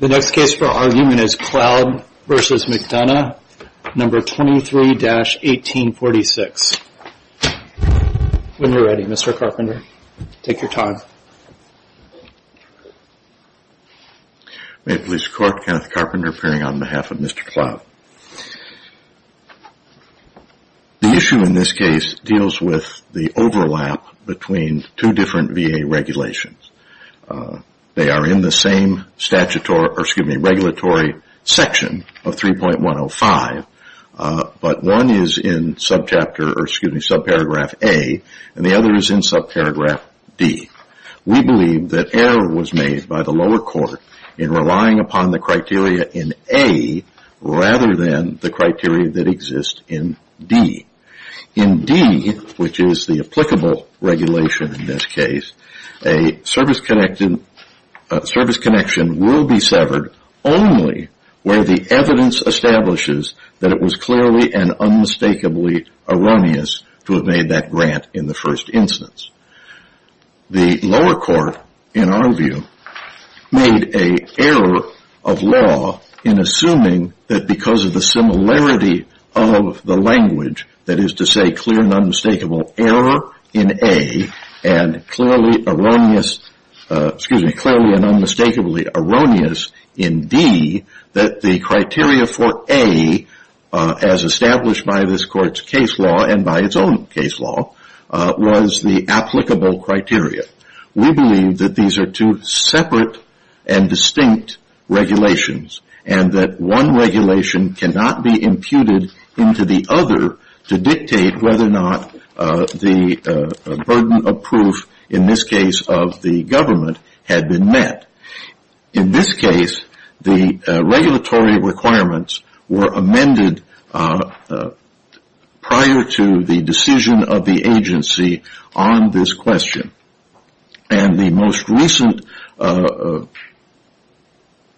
The next case for argument is Cloud v. McDonough, No. 23-1846. When you're ready, Mr. Carpenter, take your time. May it please the Court, Kenneth Carpenter appearing on behalf of Mr. Cloud. The issue in this case deals with the overlap between two different VA regulations. They are in the same statutory, or excuse me, regulatory section of 3.105. But one is in subchapter, or excuse me, subparagraph A, and the other is in subparagraph D. We believe that error was made by the lower court in relying upon the criteria in A rather than the criteria that exist in D. In D, which is the applicable regulation in this case, a service connection will be severed only where the evidence establishes that it was clearly and unmistakably erroneous to have made that grant in the first instance. The lower court, in our view, made an error of law in assuming that because of the similarity of the language, that is to say, clear and unmistakable error in A and clearly erroneous, excuse me, clearly and unmistakably erroneous in D, that the criteria for A, as established by this Court's case law and by its own case law, was the applicable criteria. We believe that these are two separate and distinct regulations and that one regulation cannot be imputed into the other to dictate whether or not the burden of proof, in this case of the government, had been met. In this case, the regulatory requirements were amended prior to the decision of the agency on this question. The most recent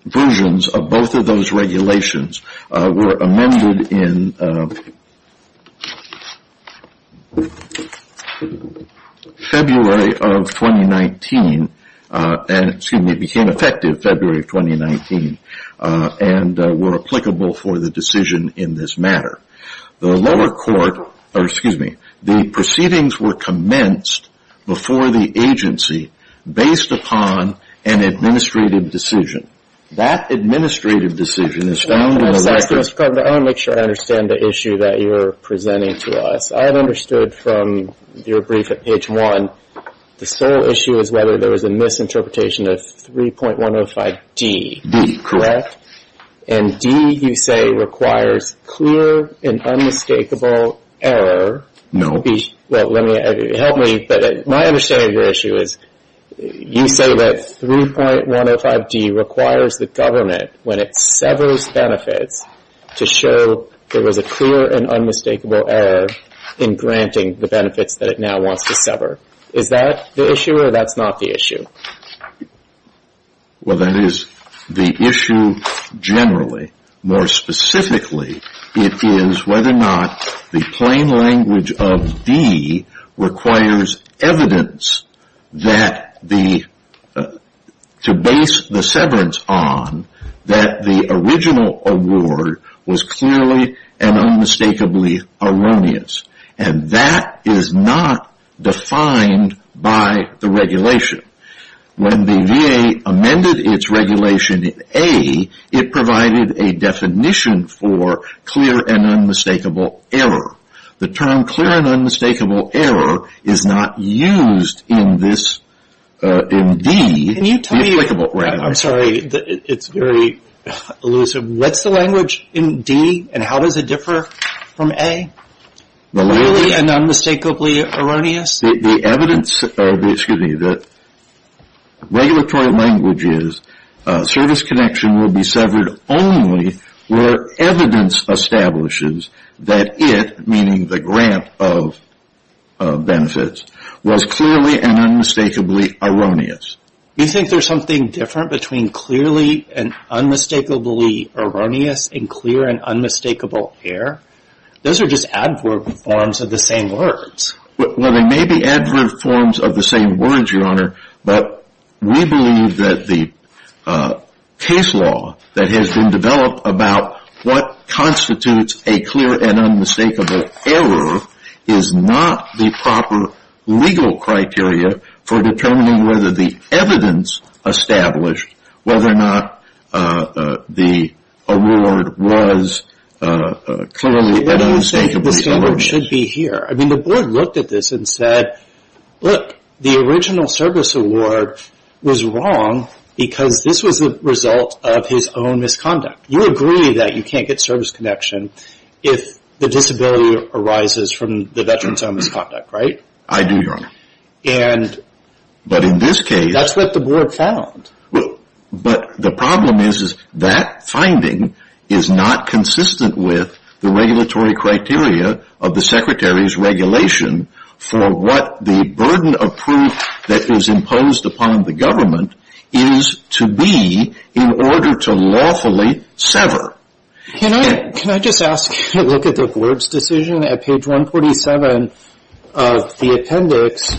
versions of both of those regulations were amended in February of 2019 and were applicable for the decision in this matter. The lower court, or excuse me, the proceedings were commenced before the agency based upon an administrative decision. That administrative decision is found in the record. I want to make sure I understand the issue that you're presenting to us. I've understood from your brief at page one, the sole issue is whether there was a misinterpretation of 3.105D. D, correct. And D, you say, requires clear and unmistakable error. Well, help me, but my understanding of your issue is you say that 3.105D requires the government, when it severs benefits, to show there was a clear and unmistakable error in granting the benefits that it now wants to sever. Is that the issue or that's not the issue? Well, that is the issue generally. More specifically, it is whether or not the plain language of D requires evidence to base the severance on that the original award was clearly and unmistakably erroneous. And that is not defined by the regulation. When the VA amended its regulation in A, it provided a definition for clear and unmistakable error. The term clear and unmistakable error is not used in D. I'm sorry, it's very elusive. What's the language in D and how does it differ from A? Clearly and unmistakably erroneous? The evidence, excuse me, the regulatory language is service connection will be severed only where evidence establishes that it, meaning the grant of benefits, was clearly and unmistakably erroneous. You think there's something different between clearly and unmistakably erroneous and clear and unmistakable error? Those are just adverb forms of the same words. Well, they may be adverb forms of the same words, Your Honor, but we believe that the case law that has been developed about what constitutes a clear and unmistakable error is not the proper legal criteria for determining whether the evidence established whether or not the award was clearly and unmistakably erroneous. The standard should be here. I mean, the board looked at this and said, look, the original service award was wrong because this was a result of his own misconduct. You agree that you can't get service connection if the disability arises from the veteran's own misconduct, right? I do, Your Honor. And that's what the board found. But the problem is, is that finding is not consistent with the regulatory criteria of the secretary's regulation for what the burden of proof that was imposed upon the government is to be in order to lawfully sever. Can I just ask you to look at the board's decision at page 147 of the appendix?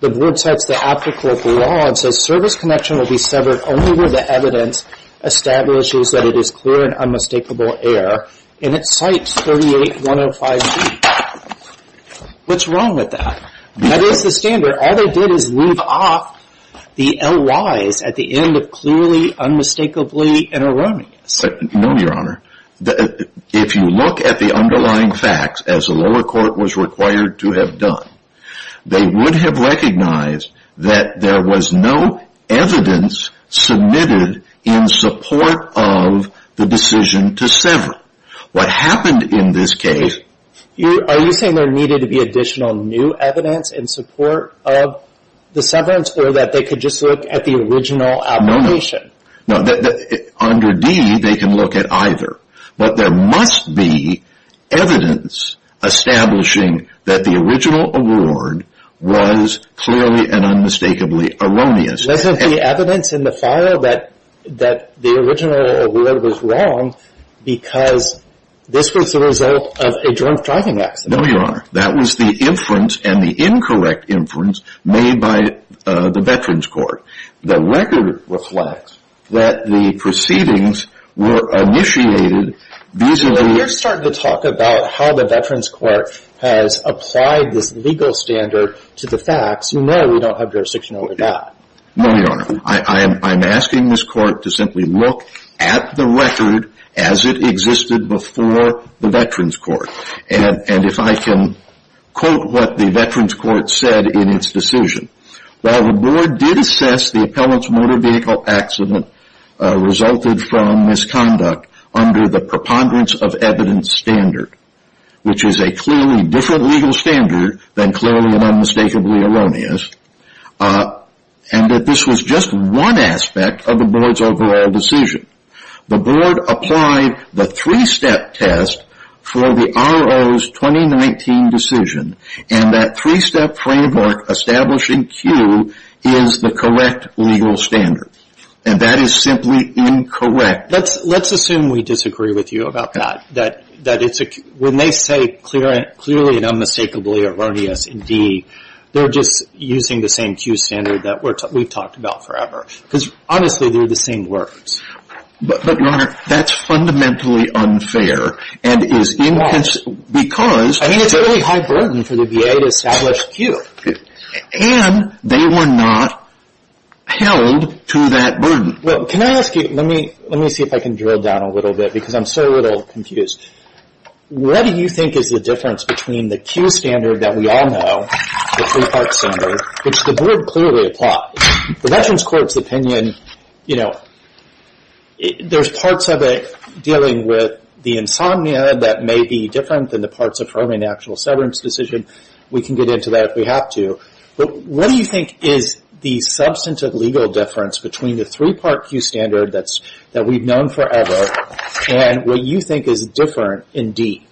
The board cites the applicable law and says service connection will be severed only where the evidence establishes that it is clear and unmistakable error. And it cites 38105B. What's wrong with that? That is the standard. All they did is leave off the LYs at the end of clearly, unmistakably, and erroneous. No, Your Honor. If you look at the underlying facts, as the lower court was required to have done, they would have recognized that there was no evidence submitted in support of the decision to sever. What happened in this case Are you saying there needed to be additional new evidence in support of the severance or that they could just look at the original application? No, no. Under D, they can look at either. But there must be evidence establishing that the original award was clearly and unmistakably erroneous. Wasn't the evidence in the file that the original award was wrong because this was the result of a drunk driving accident? No, Your Honor. That was the inference and the incorrect inference made by the Veterans Court. The record reflects that the proceedings were initiated vis-a-vis You're starting to talk about how the Veterans Court has applied this legal standard to the facts. You know we don't have jurisdiction over that. No, Your Honor. I'm asking this court to simply look at the record as it existed before the Veterans Court. And if I can quote what the Veterans Court said in its decision. That the board did assess the appellant's motor vehicle accident resulted from misconduct under the preponderance of evidence standard. Which is a clearly different legal standard than clearly and unmistakably erroneous. And that this was just one aspect of the board's overall decision. The board applied the three-step test for the RO's 2019 decision. And that three-step framework establishing Q is the correct legal standard. And that is simply incorrect. Let's assume we disagree with you about that. That when they say clearly and unmistakably erroneous in D. They're just using the same Q standard that we've talked about forever. Because honestly they're the same words. But, Your Honor, that's fundamentally unfair. Why? I mean it's a really high burden for the VA to establish Q. And they were not held to that burden. Well, can I ask you, let me see if I can drill down a little bit because I'm so a little confused. What do you think is the difference between the Q standard that we all know, the three-part standard, which the board clearly applied. Well, the Veterans Court's opinion, you know, there's parts of it dealing with the insomnia that may be different than the parts of programming the actual severance decision. We can get into that if we have to. But what do you think is the substantive legal difference between the three-part Q standard that we've known forever and what you think is different in D?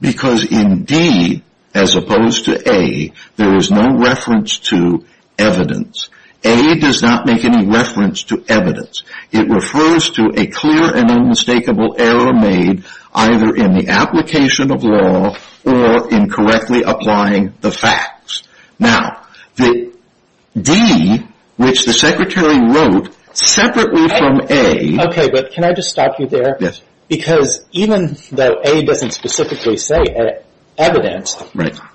Because in D, as opposed to A, there is no reference to evidence. A does not make any reference to evidence. It refers to a clear and unmistakable error made either in the application of law or in correctly applying the facts. Now, the D, which the Secretary wrote separately from A. Okay, but can I just stop you there? Yes. Because even though A doesn't specifically say evidence,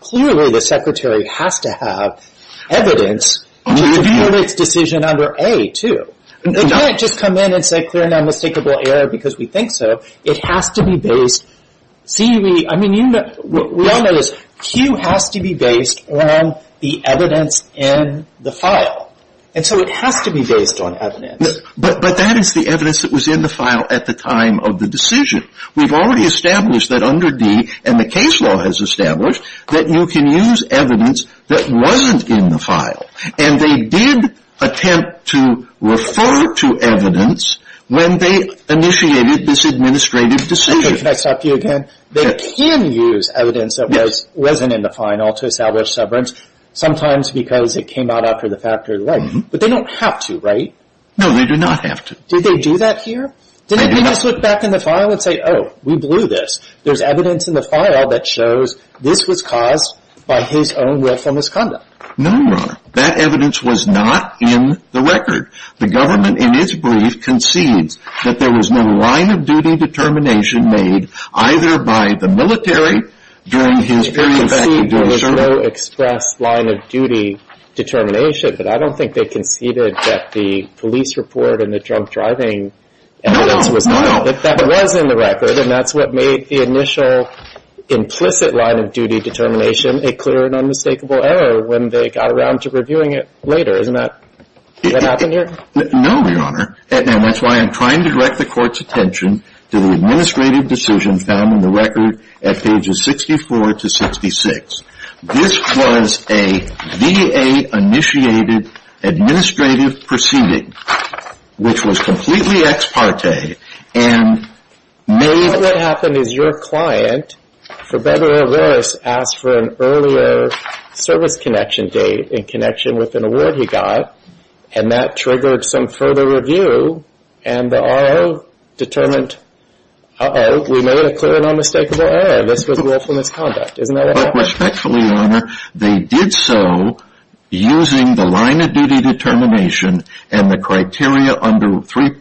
clearly the Secretary has to have evidence to hold its decision under A, too. They can't just come in and say clear and unmistakable error because we think so. It has to be based. See, we all know this. Q has to be based on the evidence in the file. And so it has to be based on evidence. But that is the evidence that was in the file at the time of the decision. We've already established that under D, and the case law has established, that you can use evidence that wasn't in the file. And they did attempt to refer to evidence when they initiated this administrative decision. Okay, can I stop you again? They can use evidence that wasn't in the final to establish severance, sometimes because it came out after the fact or the right. But they don't have to, right? No, they do not have to. Did they do that here? Did they just look back in the file and say, oh, we blew this. There's evidence in the file that shows this was caused by his own willful misconduct. No, Your Honor. That evidence was not in the record. The government in its brief concedes that there was no line of duty determination made either by the military during his period of service. There was no express line of duty determination. But I don't think they conceded that the police report and the drunk driving evidence was in the record. And that's what made the initial implicit line of duty determination a clear and unmistakable error when they got around to reviewing it later. Isn't that what happened here? No, Your Honor. That's why I'm trying to direct the court's attention to the administrative decision found in the record at pages 64 to 66. This was a VA-initiated administrative proceeding, which was completely ex parte and made. What happened is your client, for better or worse, asked for an earlier service connection date in connection with an award he got. And that triggered some further review, and the RO determined, uh-oh, we made a clear and unmistakable error. This was willful misconduct. Isn't that what happened? But respectfully, Your Honor, they did so using the line of duty determination and the criteria under 38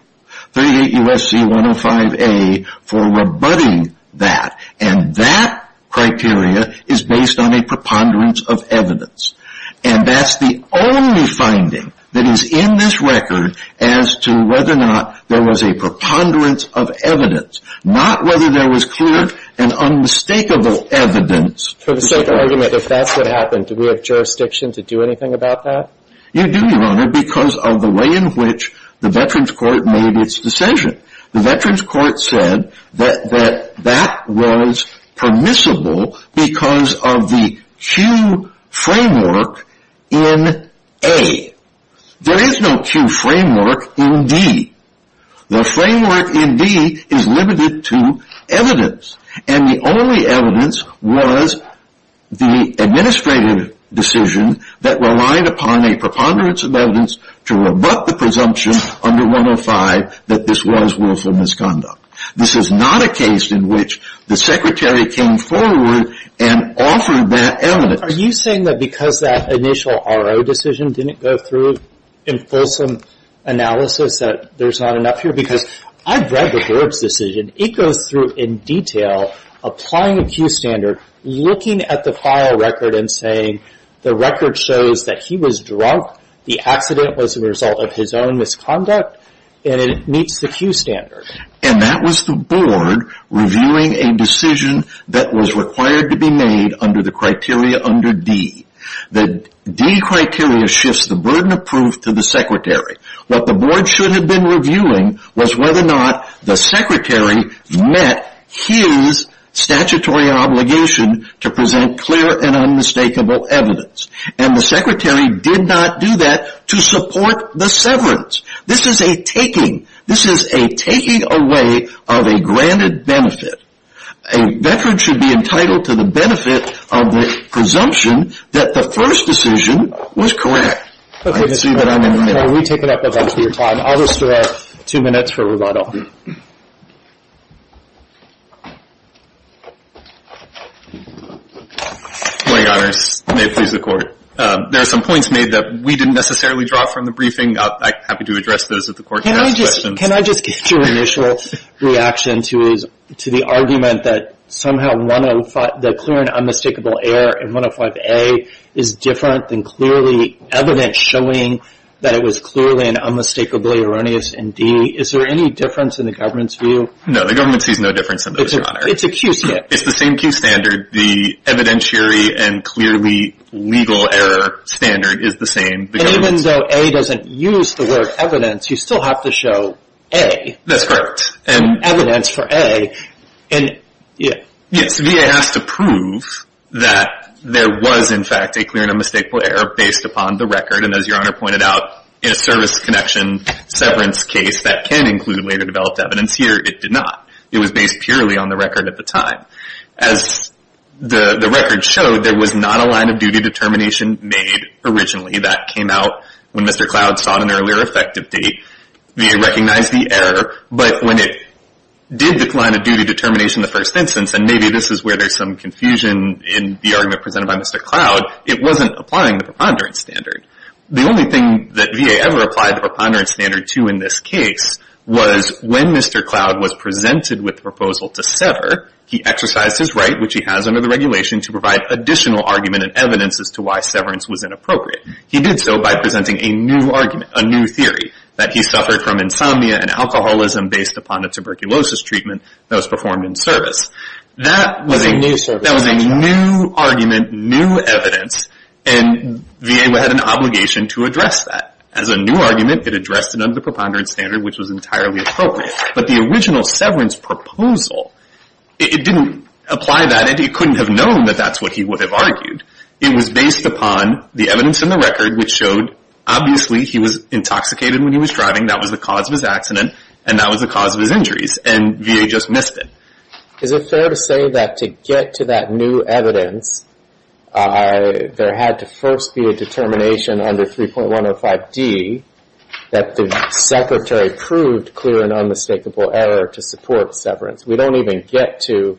U.S.C. 105A for rebutting that. And that criteria is based on a preponderance of evidence. And that's the only finding that is in this record as to whether or not there was a preponderance of evidence, not whether there was clear and unmistakable evidence. For the sake of argument, if that's what happened, do we have jurisdiction to do anything about that? You do, Your Honor, because of the way in which the Veterans Court made its decision. The Veterans Court said that that was permissible because of the Q framework in A. There is no Q framework in D. The framework in D is limited to evidence, and the only evidence was the administrative decision that relied upon a preponderance of evidence to rebut the presumption under 105 that this was willful misconduct. This is not a case in which the Secretary came forward and offered that evidence. Are you saying that because that initial RO decision didn't go through in fulsome analysis that there's not enough here? Because I've read the Burbs decision. It goes through in detail, applying a Q standard, looking at the file record and saying, the record shows that he was drunk, the accident was a result of his own misconduct, and it meets the Q standard. And that was the Board reviewing a decision that was required to be made under the criteria under D. The D criteria shifts the burden of proof to the Secretary. What the Board should have been reviewing was whether or not the Secretary met his statutory obligation to present clear and unmistakable evidence. And the Secretary did not do that to support the severance. This is a taking. This is a taking away of a granted benefit. A veteran should be entitled to the benefit of the presumption that the first decision was correct. We take it up a bunch with your time. I'll restore two minutes for rebuttal. Good morning, Your Honors. May it please the Court. There are some points made that we didn't necessarily draw from the briefing. I'm happy to address those if the Court has questions. Can I just get your initial reaction to the argument that somehow the clear and unmistakable error in 105A is different than clearly evidence showing that it was clearly and unmistakably erroneous in D? Is there any difference in the government's view? No, the government sees no difference in those, Your Honor. It's a Q standard. It's the same Q standard. The evidentiary and clearly legal error standard is the same. And even though A doesn't use the word evidence, you still have to show A. That's correct. Evidence for A. Yes, VA has to prove that there was, in fact, a clear and unmistakable error based upon the record. And as Your Honor pointed out, in a service connection severance case, that can include later developed evidence. Here, it did not. It was based purely on the record at the time. As the record showed, there was not a line of duty determination made originally. That came out when Mr. Cloud sought an earlier effective date. VA recognized the error. But when it did decline a duty determination in the first instance, and maybe this is where there's some confusion in the argument presented by Mr. Cloud, it wasn't applying the preponderance standard. The only thing that VA ever applied the preponderance standard to in this case was when Mr. Cloud was presented with the proposal to sever, he exercised his right, which he has under the regulation, to provide additional argument and evidence as to why severance was inappropriate. He did so by presenting a new argument, a new theory, that he suffered from insomnia and alcoholism based upon a tuberculosis treatment that was performed in service. That was a new argument, new evidence, and VA had an obligation to address that. As a new argument, it addressed it under the preponderance standard, which was entirely appropriate. But the original severance proposal, it didn't apply that, and he couldn't have known that that's what he would have argued. It was based upon the evidence in the record, which showed, obviously, he was intoxicated when he was driving, that was the cause of his accident, and that was the cause of his injuries, and VA just missed it. Is it fair to say that to get to that new evidence, there had to first be a determination under 3.105D that the Secretary proved clear and unmistakable error to support severance? We don't even get to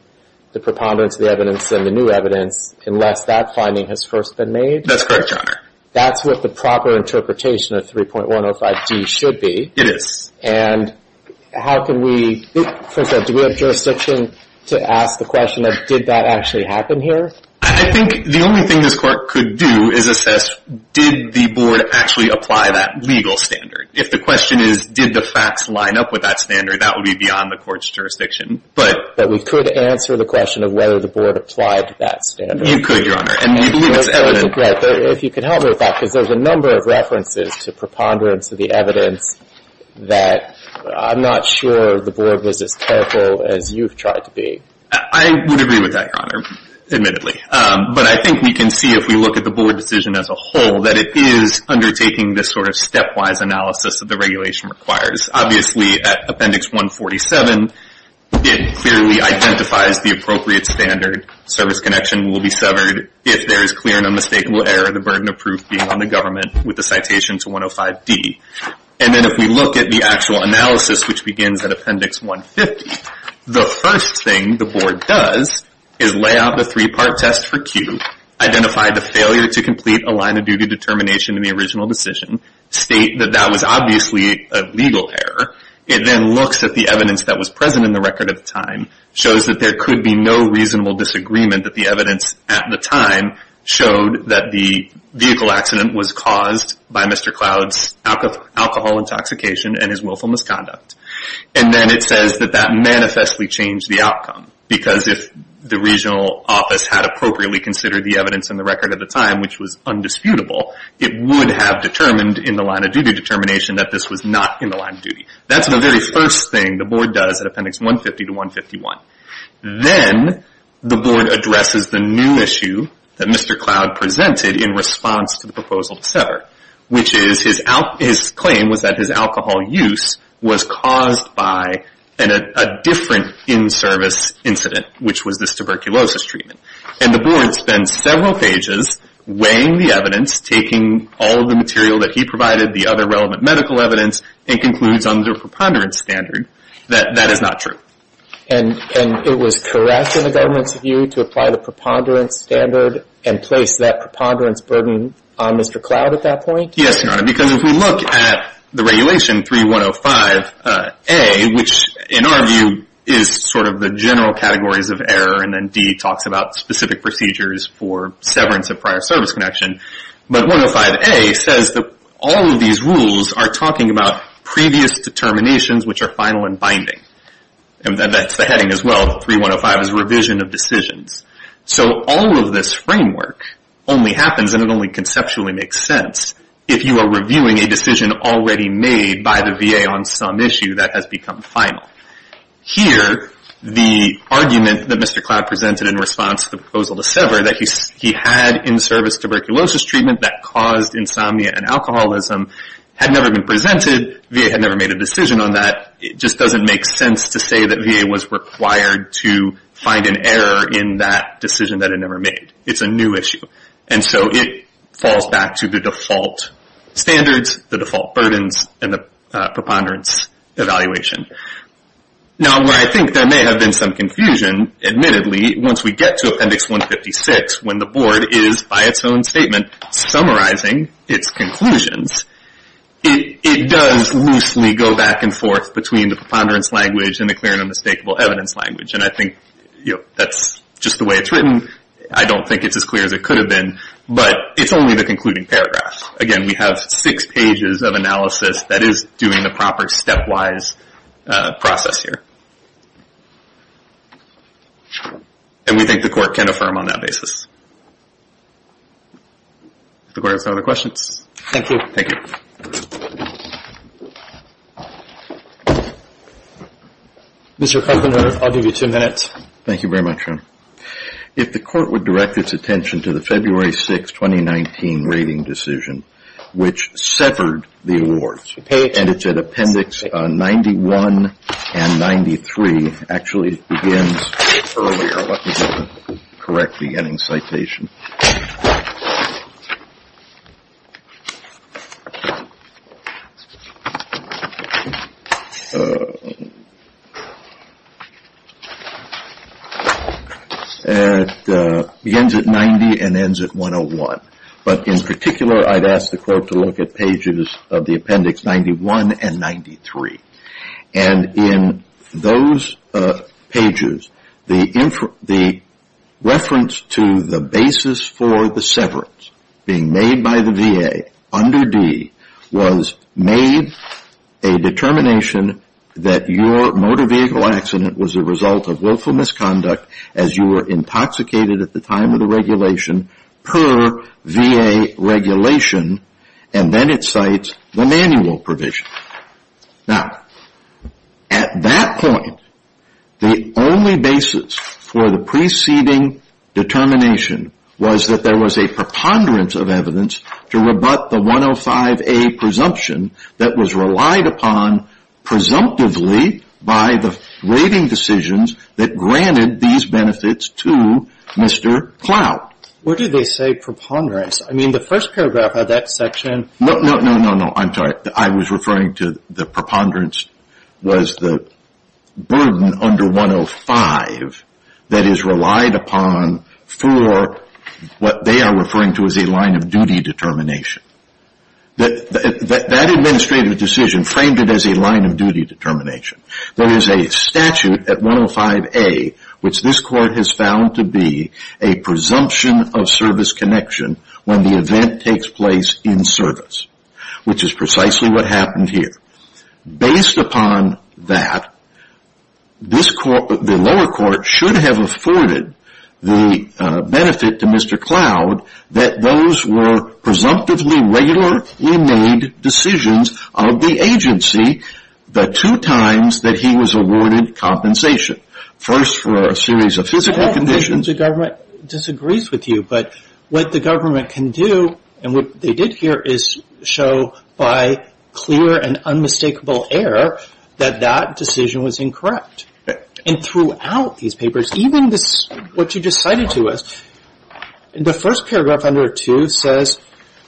the preponderance of the evidence and the new evidence unless that finding has first been made? That's correct, Your Honor. That's what the proper interpretation of 3.105D should be. It is. And how can we, for example, do we have jurisdiction to ask the question of, did that actually happen here? I think the only thing this Court could do is assess, did the Board actually apply that legal standard? If the question is, did the facts line up with that standard, that would be beyond the Court's jurisdiction. But we could answer the question of whether the Board applied that standard. You could, Your Honor, and we believe it's evident. If you could help me with that, because there's a number of references to preponderance of the evidence that I'm not sure the Board was as careful as you've tried to be. I would agree with that, Your Honor, admittedly. But I think we can see, if we look at the Board decision as a whole, that it is undertaking this sort of stepwise analysis that the regulation requires. Obviously, at Appendix 147, it clearly identifies the appropriate standard. Service connection will be severed if there is clear and unmistakable error of the burden of proof being on the government with the citation to 105D. And then if we look at the actual analysis, which begins at Appendix 150, the first thing the Board does is lay out the three-part test for Q, identify the failure to complete a line of duty determination in the original decision, state that that was obviously a legal error. It then looks at the evidence that was present in the record at the time, shows that there could be no reasonable disagreement that the evidence at the time showed that the vehicle accident was caused by Mr. Cloud's alcohol intoxication and his willful misconduct. And then it says that that manifestly changed the outcome, because if the regional office had appropriately considered the evidence in the record at the time, which was undisputable, it would have determined in the line of duty determination that this was not in the line of duty. That's the very first thing the Board does at Appendix 150 to 151. Then the Board addresses the new issue that Mr. Cloud presented in response to the proposal to sever, which is his claim was that his alcohol use was caused by a different in-service incident, which was this tuberculosis treatment. And the Board spends several pages weighing the evidence, taking all of the material that he provided, the other relevant medical evidence, and concludes under a preponderance standard that that is not true. And it was correct in the government's view to apply the preponderance standard and place that preponderance burden on Mr. Cloud at that point? Yes, Your Honor, because if we look at the regulation 3105A, which in our view is sort of the general categories of error, and then D talks about specific procedures for severance of prior service connection. But 105A says that all of these rules are talking about previous determinations, which are final and binding. And that's the heading as well, 3105 is revision of decisions. So all of this framework only happens, and it only conceptually makes sense, if you are reviewing a decision already made by the VA on some issue that has become final. Here, the argument that Mr. Cloud presented in response to the proposal to sever, that he had in-service tuberculosis treatment that caused insomnia and alcoholism, had never been presented. VA had never made a decision on that. It just doesn't make sense to say that VA was required to find an error in that decision that it never made. It's a new issue. And so it falls back to the default standards, the default burdens, and the preponderance evaluation. Now, where I think there may have been some confusion, admittedly, once we get to Appendix 156, when the Board is, by its own statement, summarizing its conclusions, it does loosely go back and forth between the preponderance language and the clear and unmistakable evidence language. And I think that's just the way it's written. I don't think it's as clear as it could have been. But it's only the concluding paragraph. Again, we have six pages of analysis that is doing the proper step-wise process here. And we think the Court can affirm on that basis. If the Court has no other questions. Thank you. Thank you. Mr. Kupferner, I'll give you two minutes. Thank you very much, Jim. If the Court would direct its attention to the February 6, 2019, rating decision, which severed the awards. And it's at Appendix 91 and 93. Actually, it begins earlier. Let me get the correct beginning citation. It begins at 90 and ends at 101. But in particular, I'd ask the Court to look at pages of the Appendix 91 and 93. And in those pages, the reference to the basis for the severance being made by the VA under D was made a determination that your motor vehicle accident was a result of willful misconduct as you were intoxicated at the time of the regulation per VA regulation. And then it cites the manual provision. Now, at that point, the only basis for the preceding determination was that there was a preponderance of evidence to rebut the 105A presumption that was relied upon presumptively by the rating decisions that granted these benefits to Mr. Clout. What did they say preponderance? I mean, the first paragraph of that section. No, no, no, no, no. I'm sorry. I was referring to the preponderance was the burden under 105 that is relied upon for what they are referring to as a line of duty determination. That administrative decision framed it as a line of duty determination. There is a statute at 105A which this court has found to be a presumption of service connection when the event takes place in service, which is precisely what happened here. Based upon that, the lower court should have afforded the benefit to Mr. Clout that those were presumptively regular inmate decisions of the agency the two times that he was awarded compensation. First, for a series of physical conditions. The government disagrees with you, but what the government can do, and what they did here, is show by clear and unmistakable error that that decision was incorrect. And throughout these papers, even what you just cited to us, the first paragraph under 2 says,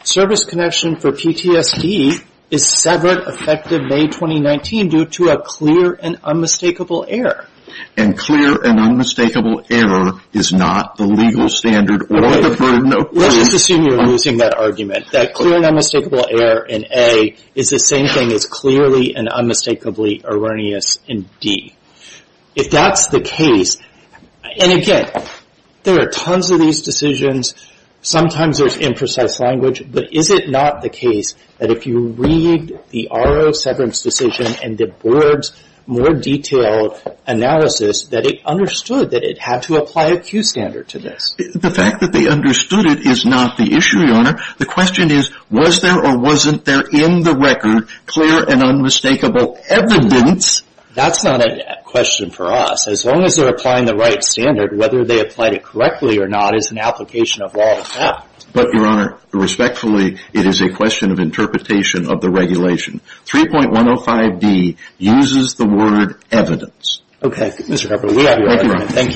service connection for PTSD is severed effective May 2019 due to a clear and unmistakable error. And clear and unmistakable error is not the legal standard or the burden of... Let's just assume you're using that argument, that clear and unmistakable error in A is the same thing as clearly and unmistakably erroneous in D. If that's the case, and again, there are tons of these decisions, sometimes there's imprecise language, but is it not the case that if you read the RO severance decision and the board's more detailed analysis, that it understood that it had to apply a Q standard to this? The fact that they understood it is not the issue, Your Honor. The question is, was there or wasn't there in the record clear and unmistakable evidence? That's not a question for us. As long as they're applying the right standard, whether they applied it correctly or not is an application of law and fact. But, Your Honor, respectfully, it is a question of interpretation of the regulation. 3.105D uses the word evidence. Okay, Mr. Harper, we have your argument. Thank you, Your Honor.